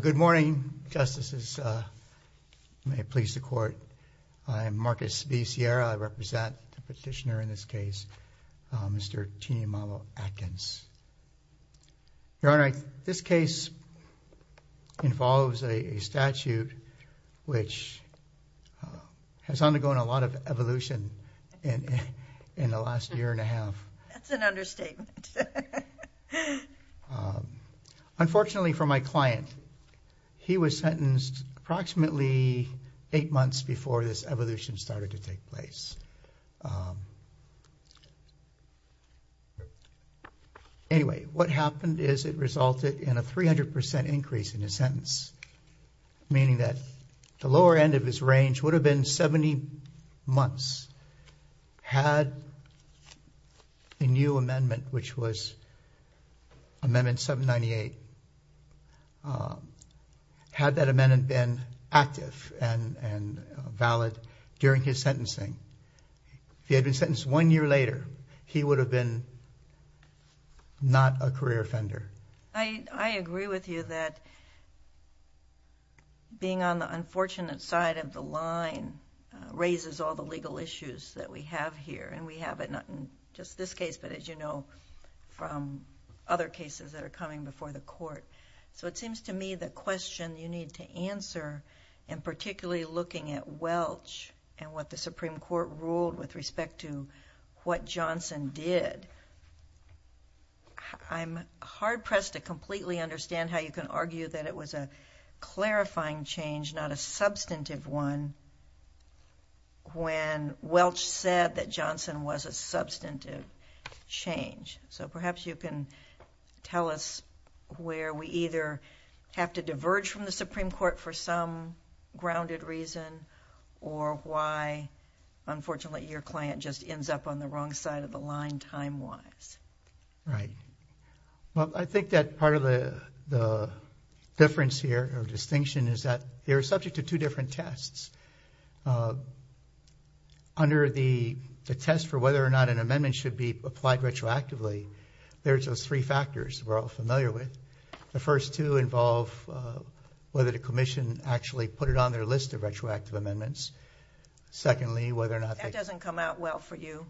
Good morning, Justices. May it please the Court. I am Marcus B. Sierra. I represent the petitioner in this case, Mr. Tineimalo Adkins. Your Honor, this case involves a statute which has undergone a lot of evolution in the last year and a half. That's an understatement. Unfortunately for my client, he was sentenced approximately eight months before this evolution started to take place. Anyway, what happened is it resulted in a 300% increase in his sentence, meaning that the lower end of his range would have been 70 months had a new amendment, which was Amendment 798, had that amendment been active and valid during his sentencing. If he had been sentenced one year later, he would have been not a career offender. I agree with you that being on the unfortunate side of the line raises all the legal issues that we have here. We have it not just in this case, but as you know from other cases that are coming before the Court. It seems to me the question you need to answer, and particularly looking at Welch and what the Supreme Court ruled with respect to what Johnson did, I'm hard-pressed to completely understand how you can argue that it was a clarifying change, not a substantive one, when Welch said that Johnson was a substantive change. Perhaps you can tell us where we either have to diverge from the Supreme Court for some grounded reason or why, unfortunately, your client just ends up on the wrong side of the line time-wise. Right. Well, I think that part of the difference here or distinction is that they're subject to two different tests. Under the test for whether or not an amendment should be applied retroactively, there's those three factors we're all familiar with. The first two involve whether the Commission actually put it on their list of retroactive amendments. Secondly, whether or not they... That doesn't come out well for you.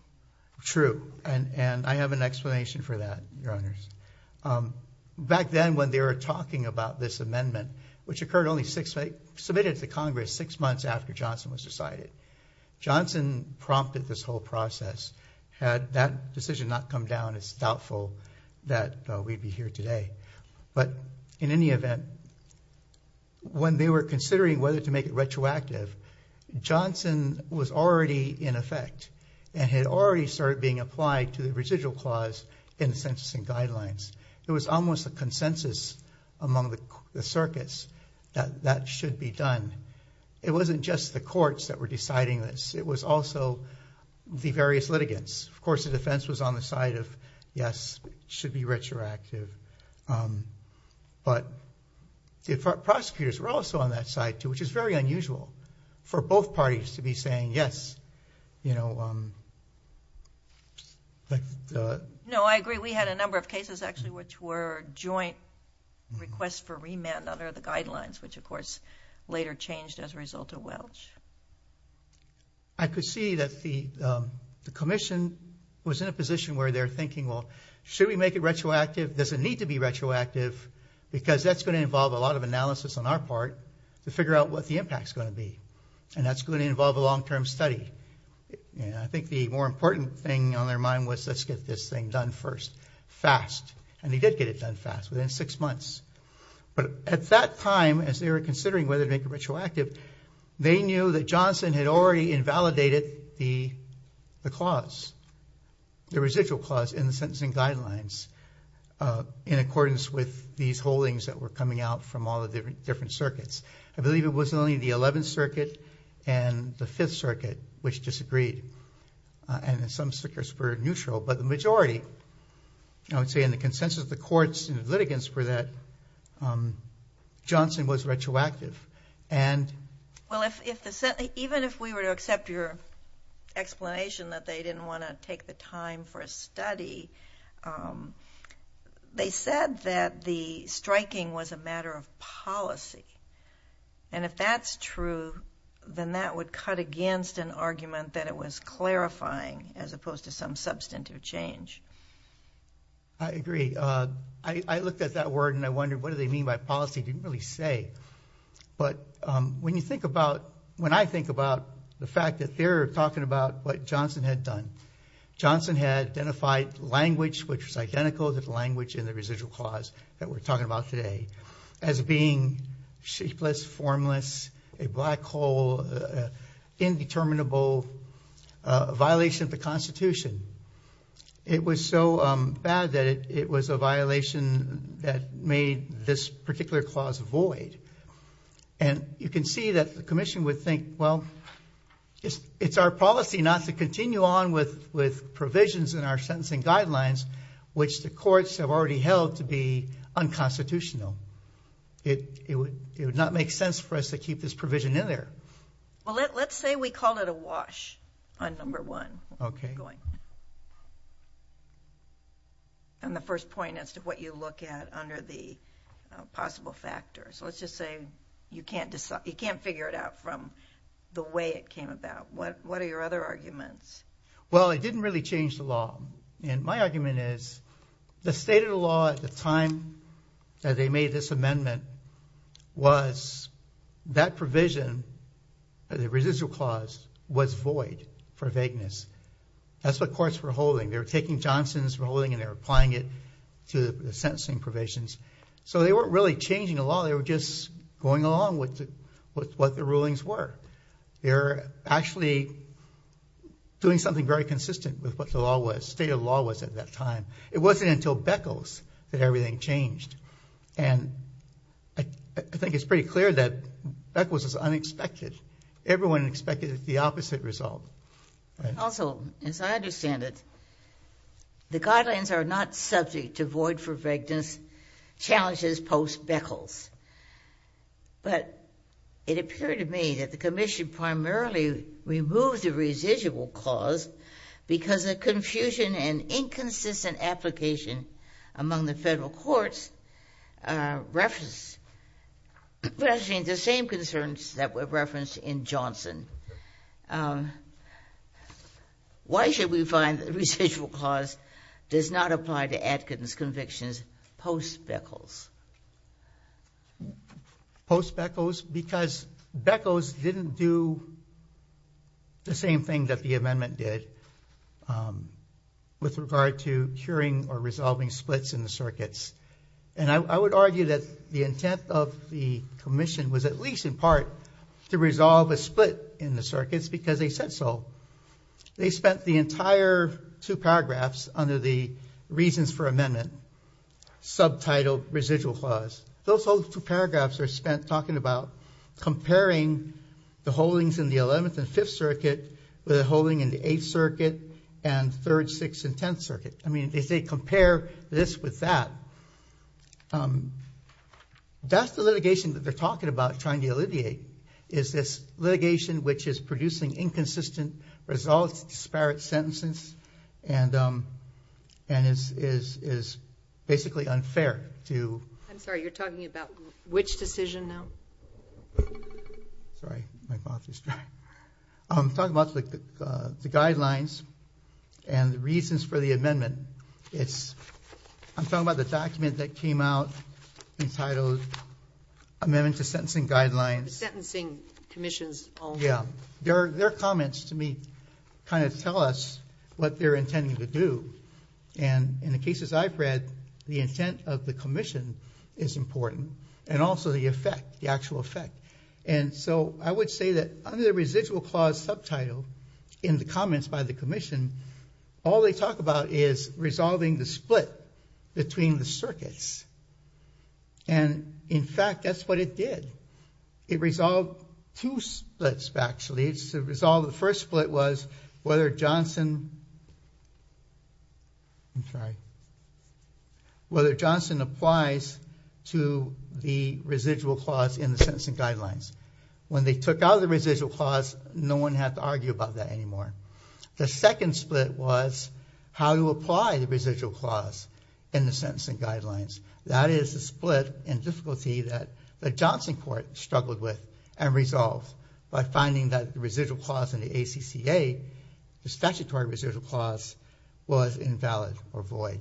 True. And I have an explanation for that, Your Honors. Back then when they were talking about this amendment, which occurred only six... Submitted to Congress six months after Johnson was decided, Johnson prompted this whole process. Had that decision not come down, it's doubtful that we'd be here today. But in any event, when they were considering whether to make it retroactive, Johnson was already in effect and had already started being applied to the residual clause in the Census and Guidelines. There was almost a consensus among the circuits that that should be done. It wasn't just the courts that were deciding this. It was also the various litigants. Of course, the defense was on the side of, yes, it should be retroactive. But the prosecutors were also on that side, too, which is very unusual for both parties to be saying yes. No, I agree. We had a number of cases, actually, which were joint requests for remand under the Guidelines, which, of course, later changed as a result of Welch. I could see that the commission was in a position where they're thinking, well, should we make it retroactive? Does it need to be retroactive? Because that's going to involve a lot of analysis on our part to figure out what the impact's going to be. And that's going to involve a long-term study. I think the more important thing on their mind was let's get this thing done first, fast. And they did get it done fast, within six months. But at that time, as they were considering whether to make it retroactive, they knew that Johnson had already invalidated the clause, the residual clause in the Sentencing Guidelines, in accordance with these holdings that were coming out from all the different circuits. I believe it was only the 11th Circuit and the 5th Circuit which disagreed, and some circuits were neutral. But the majority, I would say in the consensus of the courts and the litigants for that, Johnson was retroactive. And... Well, even if we were to accept your explanation that they didn't want to take the time for a study, they said that the striking was a matter of policy. And if that's true, then that would cut against an argument that it was clarifying as opposed to some substantive change. I agree. I looked at that word and I wondered, what do they mean by policy? It didn't really say. But when you think about, when I think about the fact that they're talking about what Johnson had done, Johnson had identified language, which was identical to the language in the residual clause that we're talking about today, as being shapeless, formless, a black hole, indeterminable, a violation of the Constitution. It was so bad that it was a violation that made this particular clause void. And you can see that the Commission would think, well, it's our policy not to continue on with provisions in our sentencing guidelines, which the courts have already held to be unconstitutional. It would not make sense for us to keep this provision in there. Well, let's say we called it a wash on number one. Okay. And the first point as to what you look at under the possible factors. Let's just say you can't figure it out from the way it came about. What are your other arguments? Well, it didn't really change the law. And my argument is the state of the law at the time that they made this amendment was that provision, the residual clause, was void for vagueness. That's what courts were holding. They were taking Johnson's ruling and they were applying it to the sentencing provisions. So they weren't really changing the law. They were just going along with what the rulings were. They were actually doing something very consistent with what the law was, state of the law was at that time. It wasn't until Beckles that everything changed. And I think it's pretty clear that Beckles is unexpected. Everyone expected the opposite result. Also, as I understand it, the guidelines are not subject to void for vagueness challenges post-Beckles. But it appeared to me that the commission primarily removed the residual clause because of confusion and inconsistent application among the federal courts referencing the same concerns that were referenced in Johnson. Thank you. Why should we find that the residual clause does not apply to Atkins convictions post-Beckles? Post-Beckles? Because Beckles didn't do the same thing that the amendment did with regard to curing or resolving splits in the circuits. And I would argue that the intent of the commission was at least in part to resolve a split in the circuits because they said so. They spent the entire two paragraphs under the reasons for amendment subtitled residual clause. Those whole two paragraphs are spent talking about comparing the holdings in the 11th and 5th circuit with a holding in the 8th circuit and 3rd, 6th, and 10th circuit. I mean, if they compare this with that, that's the litigation that they're talking about trying to alleviate is this litigation which is producing inconsistent results, disparate sentences, and is basically unfair to- I'm sorry, you're talking about which decision now? Sorry, my mouth is dry. I'm talking about the guidelines and the reasons for the amendment. I'm talking about the document that came out entitled Amendment to Sentencing Guidelines. The Sentencing Commission's own- Yeah, their comments to me kind of tell us what they're intending to do. And in the cases I've read, the intent of the commission is important and also the effect, the actual effect. And so I would say that under the residual clause subtitle in the comments by the commission, all they talk about is resolving the split between the circuits. And in fact, that's what it did. It resolved two splits, actually. The first split was whether Johnson applies to the residual clause in the Sentencing Guidelines. When they took out the residual clause, no one had to argue about that anymore. The second split was how to apply the residual clause in the Sentencing Guidelines. That is the split and difficulty that the Johnson court struggled with and resolved by finding that the residual clause in the ACCA, the statutory residual clause, was invalid or void.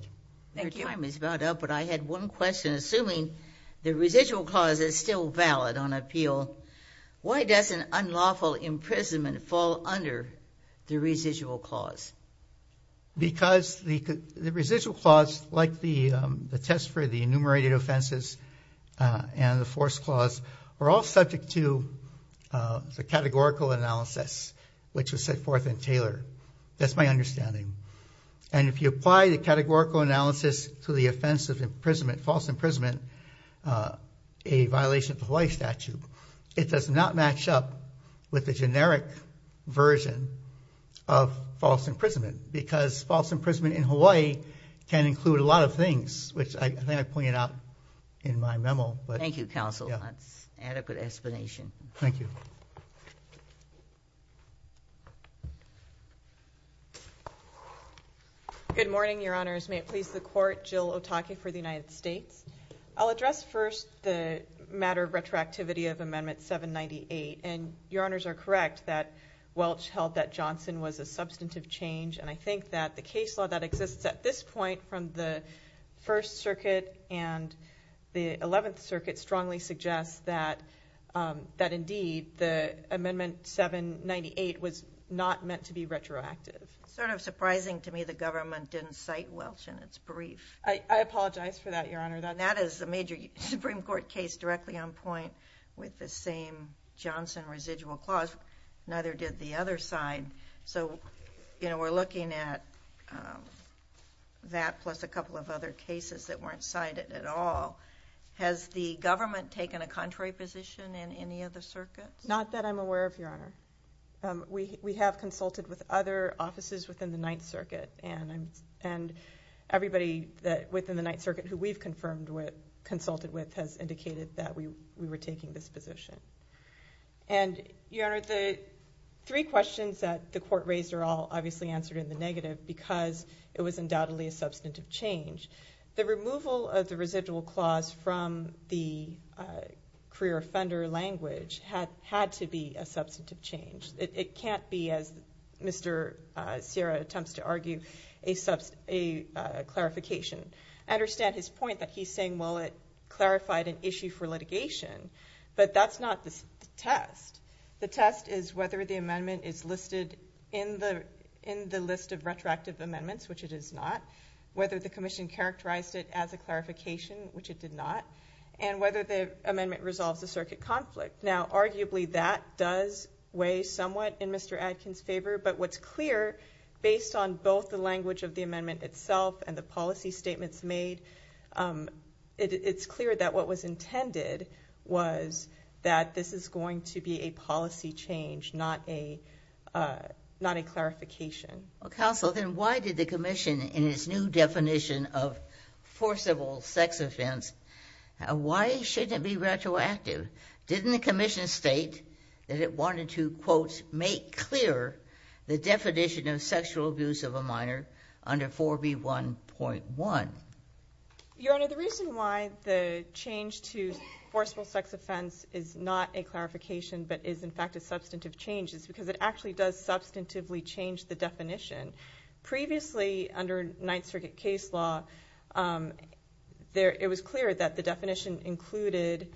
Thank you. Your time is about up, but I had one question. Assuming the residual clause is still valid on appeal, why doesn't unlawful imprisonment fall under the residual clause? Because the residual clause, like the test for the enumerated offenses and the force clause, are all subject to the categorical analysis, which was set forth in Taylor. That's my understanding. And if you apply the categorical analysis to the offense of imprisonment, false imprisonment, a violation of the Hawaii statute, it does not match up with the generic version of false imprisonment because false imprisonment in Hawaii can include a lot of things, which I think I pointed out in my memo. Thank you, counsel. That's an adequate explanation. Thank you. Good morning, Your Honors. May it please the Court, Jill Otake for the United States. I'll address first the matter of retroactivity of Amendment 798, and Your Honors are correct that Welch held that Johnson was a substantive change, and I think that the case law that exists at this point from the First Circuit and the Eleventh Circuit strongly suggests that, indeed, the Amendment 798 was not meant to be retroactive. It's sort of surprising to me the government didn't cite Welch in its brief. I apologize for that, Your Honor. That is a major Supreme Court case directly on point with the same Johnson residual clause. Neither did the other side. So, you know, we're looking at that plus a couple of other cases that weren't cited at all. Has the government taken a contrary position in any of the circuits? Not that I'm aware of, Your Honor. We have consulted with other offices within the Ninth Circuit, and everybody within the Ninth Circuit who we've consulted with has indicated that we were taking this position. And, Your Honor, the three questions that the Court raised are all obviously answered in the negative because it was undoubtedly a substantive change. The removal of the residual clause from the career offender language had to be a substantive change. It can't be, as Mr. Sierra attempts to argue, a clarification. I understand his point that he's saying, well, it clarified an issue for litigation, but that's not the test. The test is whether the amendment is listed in the list of retroactive amendments, which it is not, whether the commission characterized it as a clarification, which it did not, and whether the amendment resolves the circuit conflict. Now, arguably, that does weigh somewhat in Mr. Adkin's favor, but what's clear, based on both the language of the amendment itself and the policy statements made, it's clear that what was intended was that this is going to be a policy change, not a clarification. Counsel, then why did the commission, in its new definition of forcible sex offense, why shouldn't it be retroactive? Didn't the commission state that it wanted to, quote, make clear the definition of sexual abuse of a minor under 4B1.1? Your Honor, the reason why the change to forcible sex offense is not a clarification but is, in fact, a substantive change is because it actually does substantively change the definition. Previously, under Ninth Circuit case law, it was clear that the definition included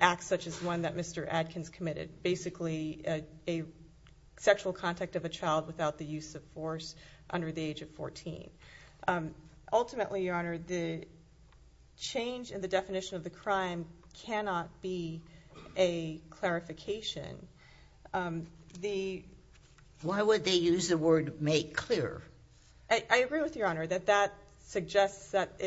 acts such as one that Mr. Adkins committed, basically a sexual contact of a child without the use of force under the age of 14. Ultimately, Your Honor, the change in the definition of the crime cannot be a clarification. Why would they use the word make clear? I agree with Your Honor that that suggests that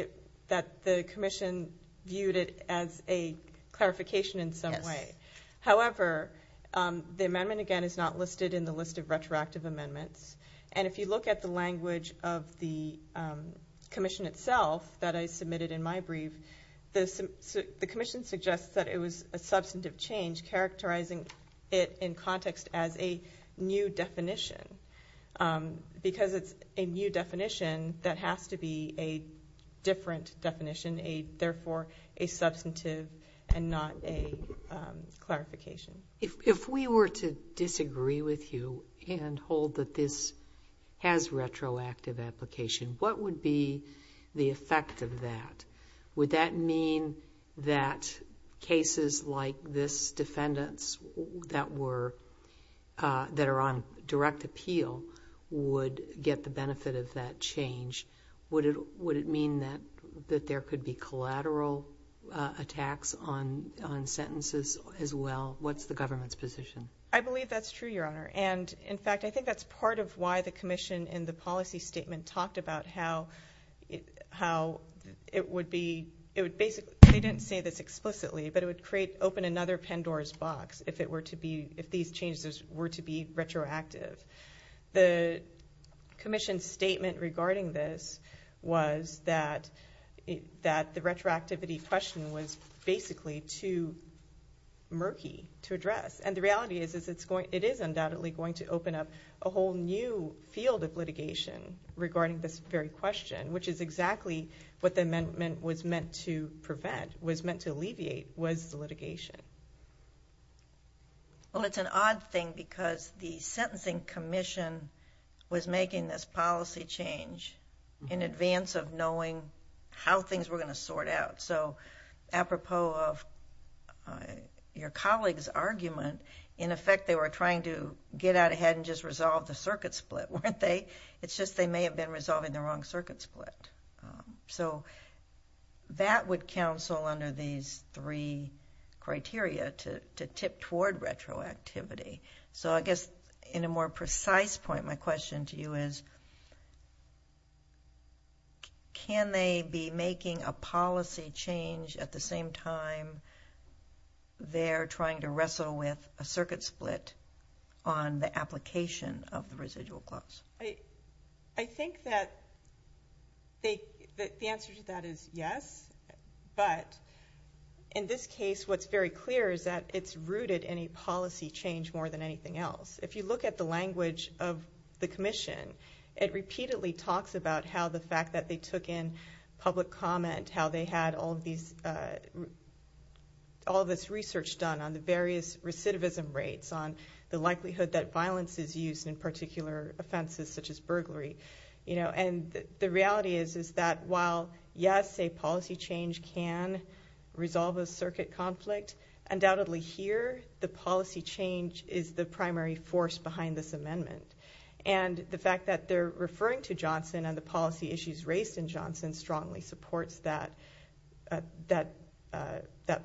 the commission viewed it as a clarification in some way. However, the amendment, again, is not listed in the list of retroactive amendments. And if you look at the language of the commission itself that I submitted in my brief, the commission suggests that it was a substantive change characterizing it in context as a new definition because it's a new definition that has to be a different definition, therefore a substantive and not a clarification. If we were to disagree with you and hold that this has retroactive application, what would be the effect of that? Would that mean that cases like this defendants that are on direct appeal would get the benefit of that change? Would it mean that there could be collateral attacks on sentences as well? What's the government's position? I believe that's true, Your Honor. And, in fact, I think that's part of why the commission in the policy statement talked about how it would be – they didn't say this explicitly, but it would open another Pandora's box if these changes were to be retroactive. The commission's statement regarding this was that the retroactivity question was basically too murky to address. And the reality is it is undoubtedly going to open up a whole new field of litigation regarding this very question, which is exactly what the amendment was meant to prevent, was meant to alleviate, was the litigation. Well, it's an odd thing because the sentencing commission was making this policy change in advance of knowing how things were going to sort out. So, apropos of your colleague's argument, in effect they were trying to get out ahead and just resolve the circuit split, weren't they? It's just they may have been resolving the wrong circuit split. So, that would counsel under these three criteria to tip toward retroactivity. So, I guess in a more precise point, my question to you is can they be making a policy change at the same time they're trying to wrestle with a circuit split on the application of the residual clause? I think that the answer to that is yes, but in this case what's very clear is that it's rooted in a policy change more than anything else. If you look at the language of the commission, it repeatedly talks about how the fact that they took in public comment, how they had all this research done on the various recidivism rates, on the likelihood that violence is used in particular offenses such as burglary. The reality is that while yes, a policy change can resolve a circuit conflict, undoubtedly here the policy change is the primary force behind this amendment. The fact that they're referring to Johnson and the policy issues raised in Johnson strongly supports that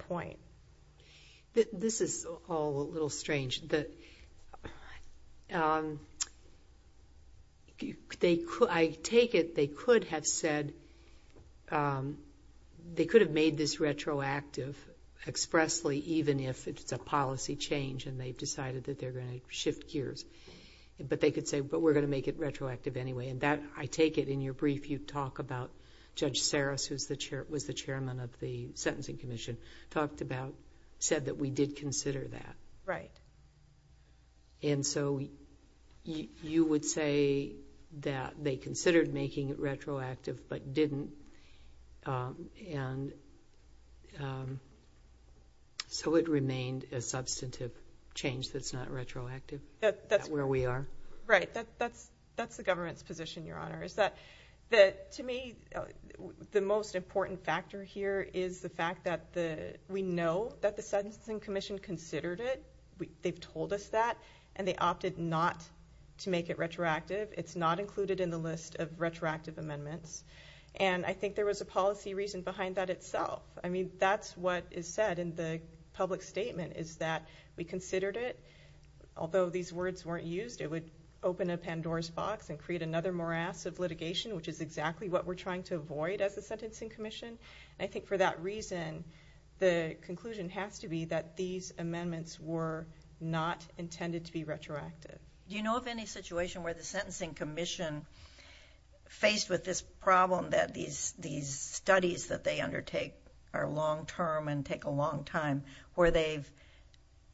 point. This is all a little strange. I take it they could have said, they could have made this retroactive expressly even if it's a policy change and they've decided that they're going to shift gears. They could say, but we're going to make it retroactive anyway. I take it in your brief you talk about Judge Saris, who was the chairman of the Sentencing Commission, said that we did consider that. Right. You would say that they considered making it retroactive but didn't, so it remained a substantive change that's not retroactive. That's where we are. Right. That's the government's position, Your Honor. To me, the most important factor here is the fact that we know that the Sentencing Commission considered it. They've told us that and they opted not to make it retroactive. It's not included in the list of retroactive amendments and I think there was a policy reason behind that itself. I mean, that's what is said in the public statement is that we considered it. Although these words weren't used, it would open a Pandora's box and create another morass of litigation, which is exactly what we're trying to avoid as the Sentencing Commission. I think for that reason, the conclusion has to be that these amendments were not intended to be retroactive. Do you know of any situation where the Sentencing Commission, faced with this problem that these studies that they undertake are long-term and take a long time, where they've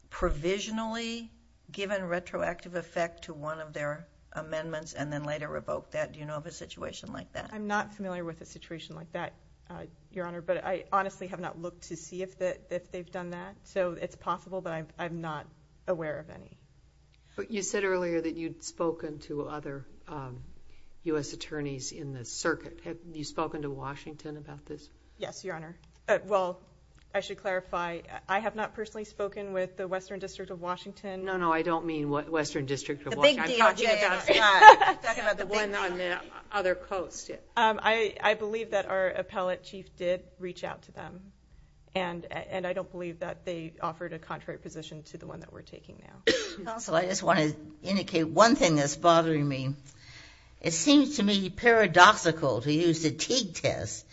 provisionally given retroactive effect to one of their amendments and then later revoked that? Do you know of a situation like that? I'm not familiar with a situation like that, Your Honor, but I honestly have not looked to see if they've done that. So it's possible, but I'm not aware of any. But you said earlier that you'd spoken to other U.S. attorneys in the circuit. Have you spoken to Washington about this? Yes, Your Honor. Well, I should clarify, I have not personally spoken with the Western District of Washington. No, no, I don't mean Western District of Washington. I'm talking about the one on the other coast. I believe that our appellate chief did reach out to them, and I don't believe that they offered a contrary position to the one that we're taking now. Counsel, I just want to indicate one thing that's bothering me. It seems to me paradoxical to use the Teague test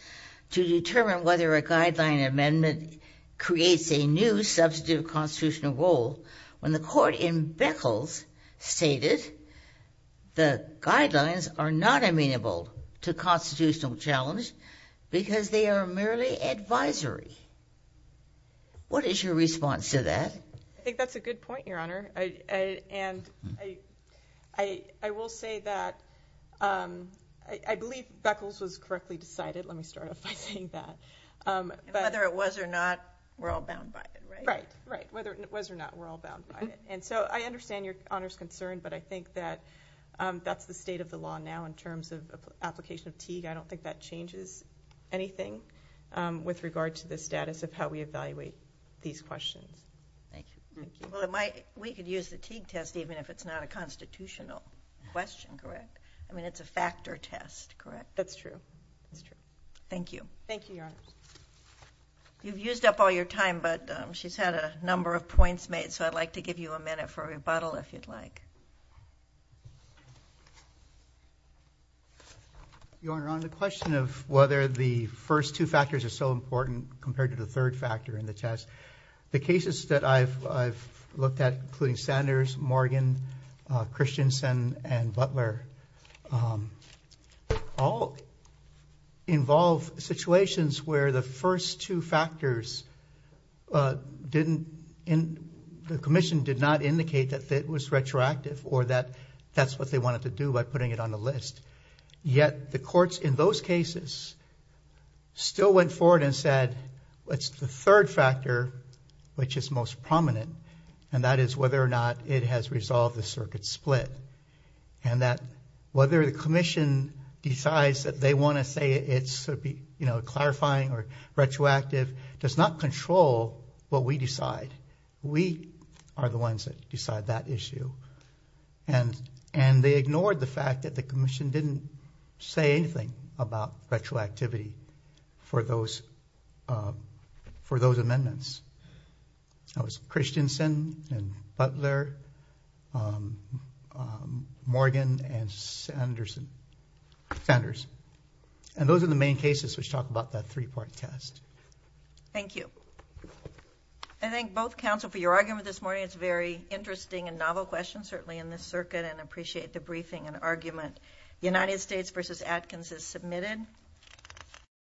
to determine whether a guideline amendment creates a new substantive constitutional role when the court in Beckles stated the guidelines are not amenable to constitutional challenge because they are merely advisory. What is your response to that? I think that's a good point, Your Honor. And I will say that I believe Beckles was correctly decided. Let me start off by saying that. And whether it was or not, we're all bound by it, right? Right, right. Whether it was or not, we're all bound by it. And so I understand Your Honor's concern, but I think that that's the state of the law now in terms of application of Teague. I don't think that changes anything with regard to the status of how we evaluate these questions. Thank you. Well, we could use the Teague test even if it's not a constitutional question, correct? I mean, it's a factor test, correct? That's true. That's true. Thank you. Thank you, Your Honor. You've used up all your time, but she's had a number of points made, so I'd like to give you a minute for a rebuttal if you'd like. Your Honor, on the question of whether the first two factors are so important compared to the third factor in the test, the cases that I've looked at, including Sanders, Morgan, Christensen, and Butler, all involve situations where the first two factors didn't, the commission did not indicate that it was retroactive or that that's what they wanted to do by putting it on the list. Yet the courts in those cases still went forward and said it's the third factor which is most prominent, and that is whether or not it has resolved the circuit split, and that whether the commission decides that they want to say it's clarifying or retroactive does not control what we decide. We are the ones that decide that issue. They ignored the fact that the commission didn't say anything about retroactivity for those amendments. That was Christensen and Butler, Morgan and Sanders. Those are the main cases which talk about that three-part test. Thank you. I thank both counsel for your argument this morning. It's a very interesting and novel question, certainly in this circuit, and I appreciate the briefing and argument. United States v. Atkins is submitted.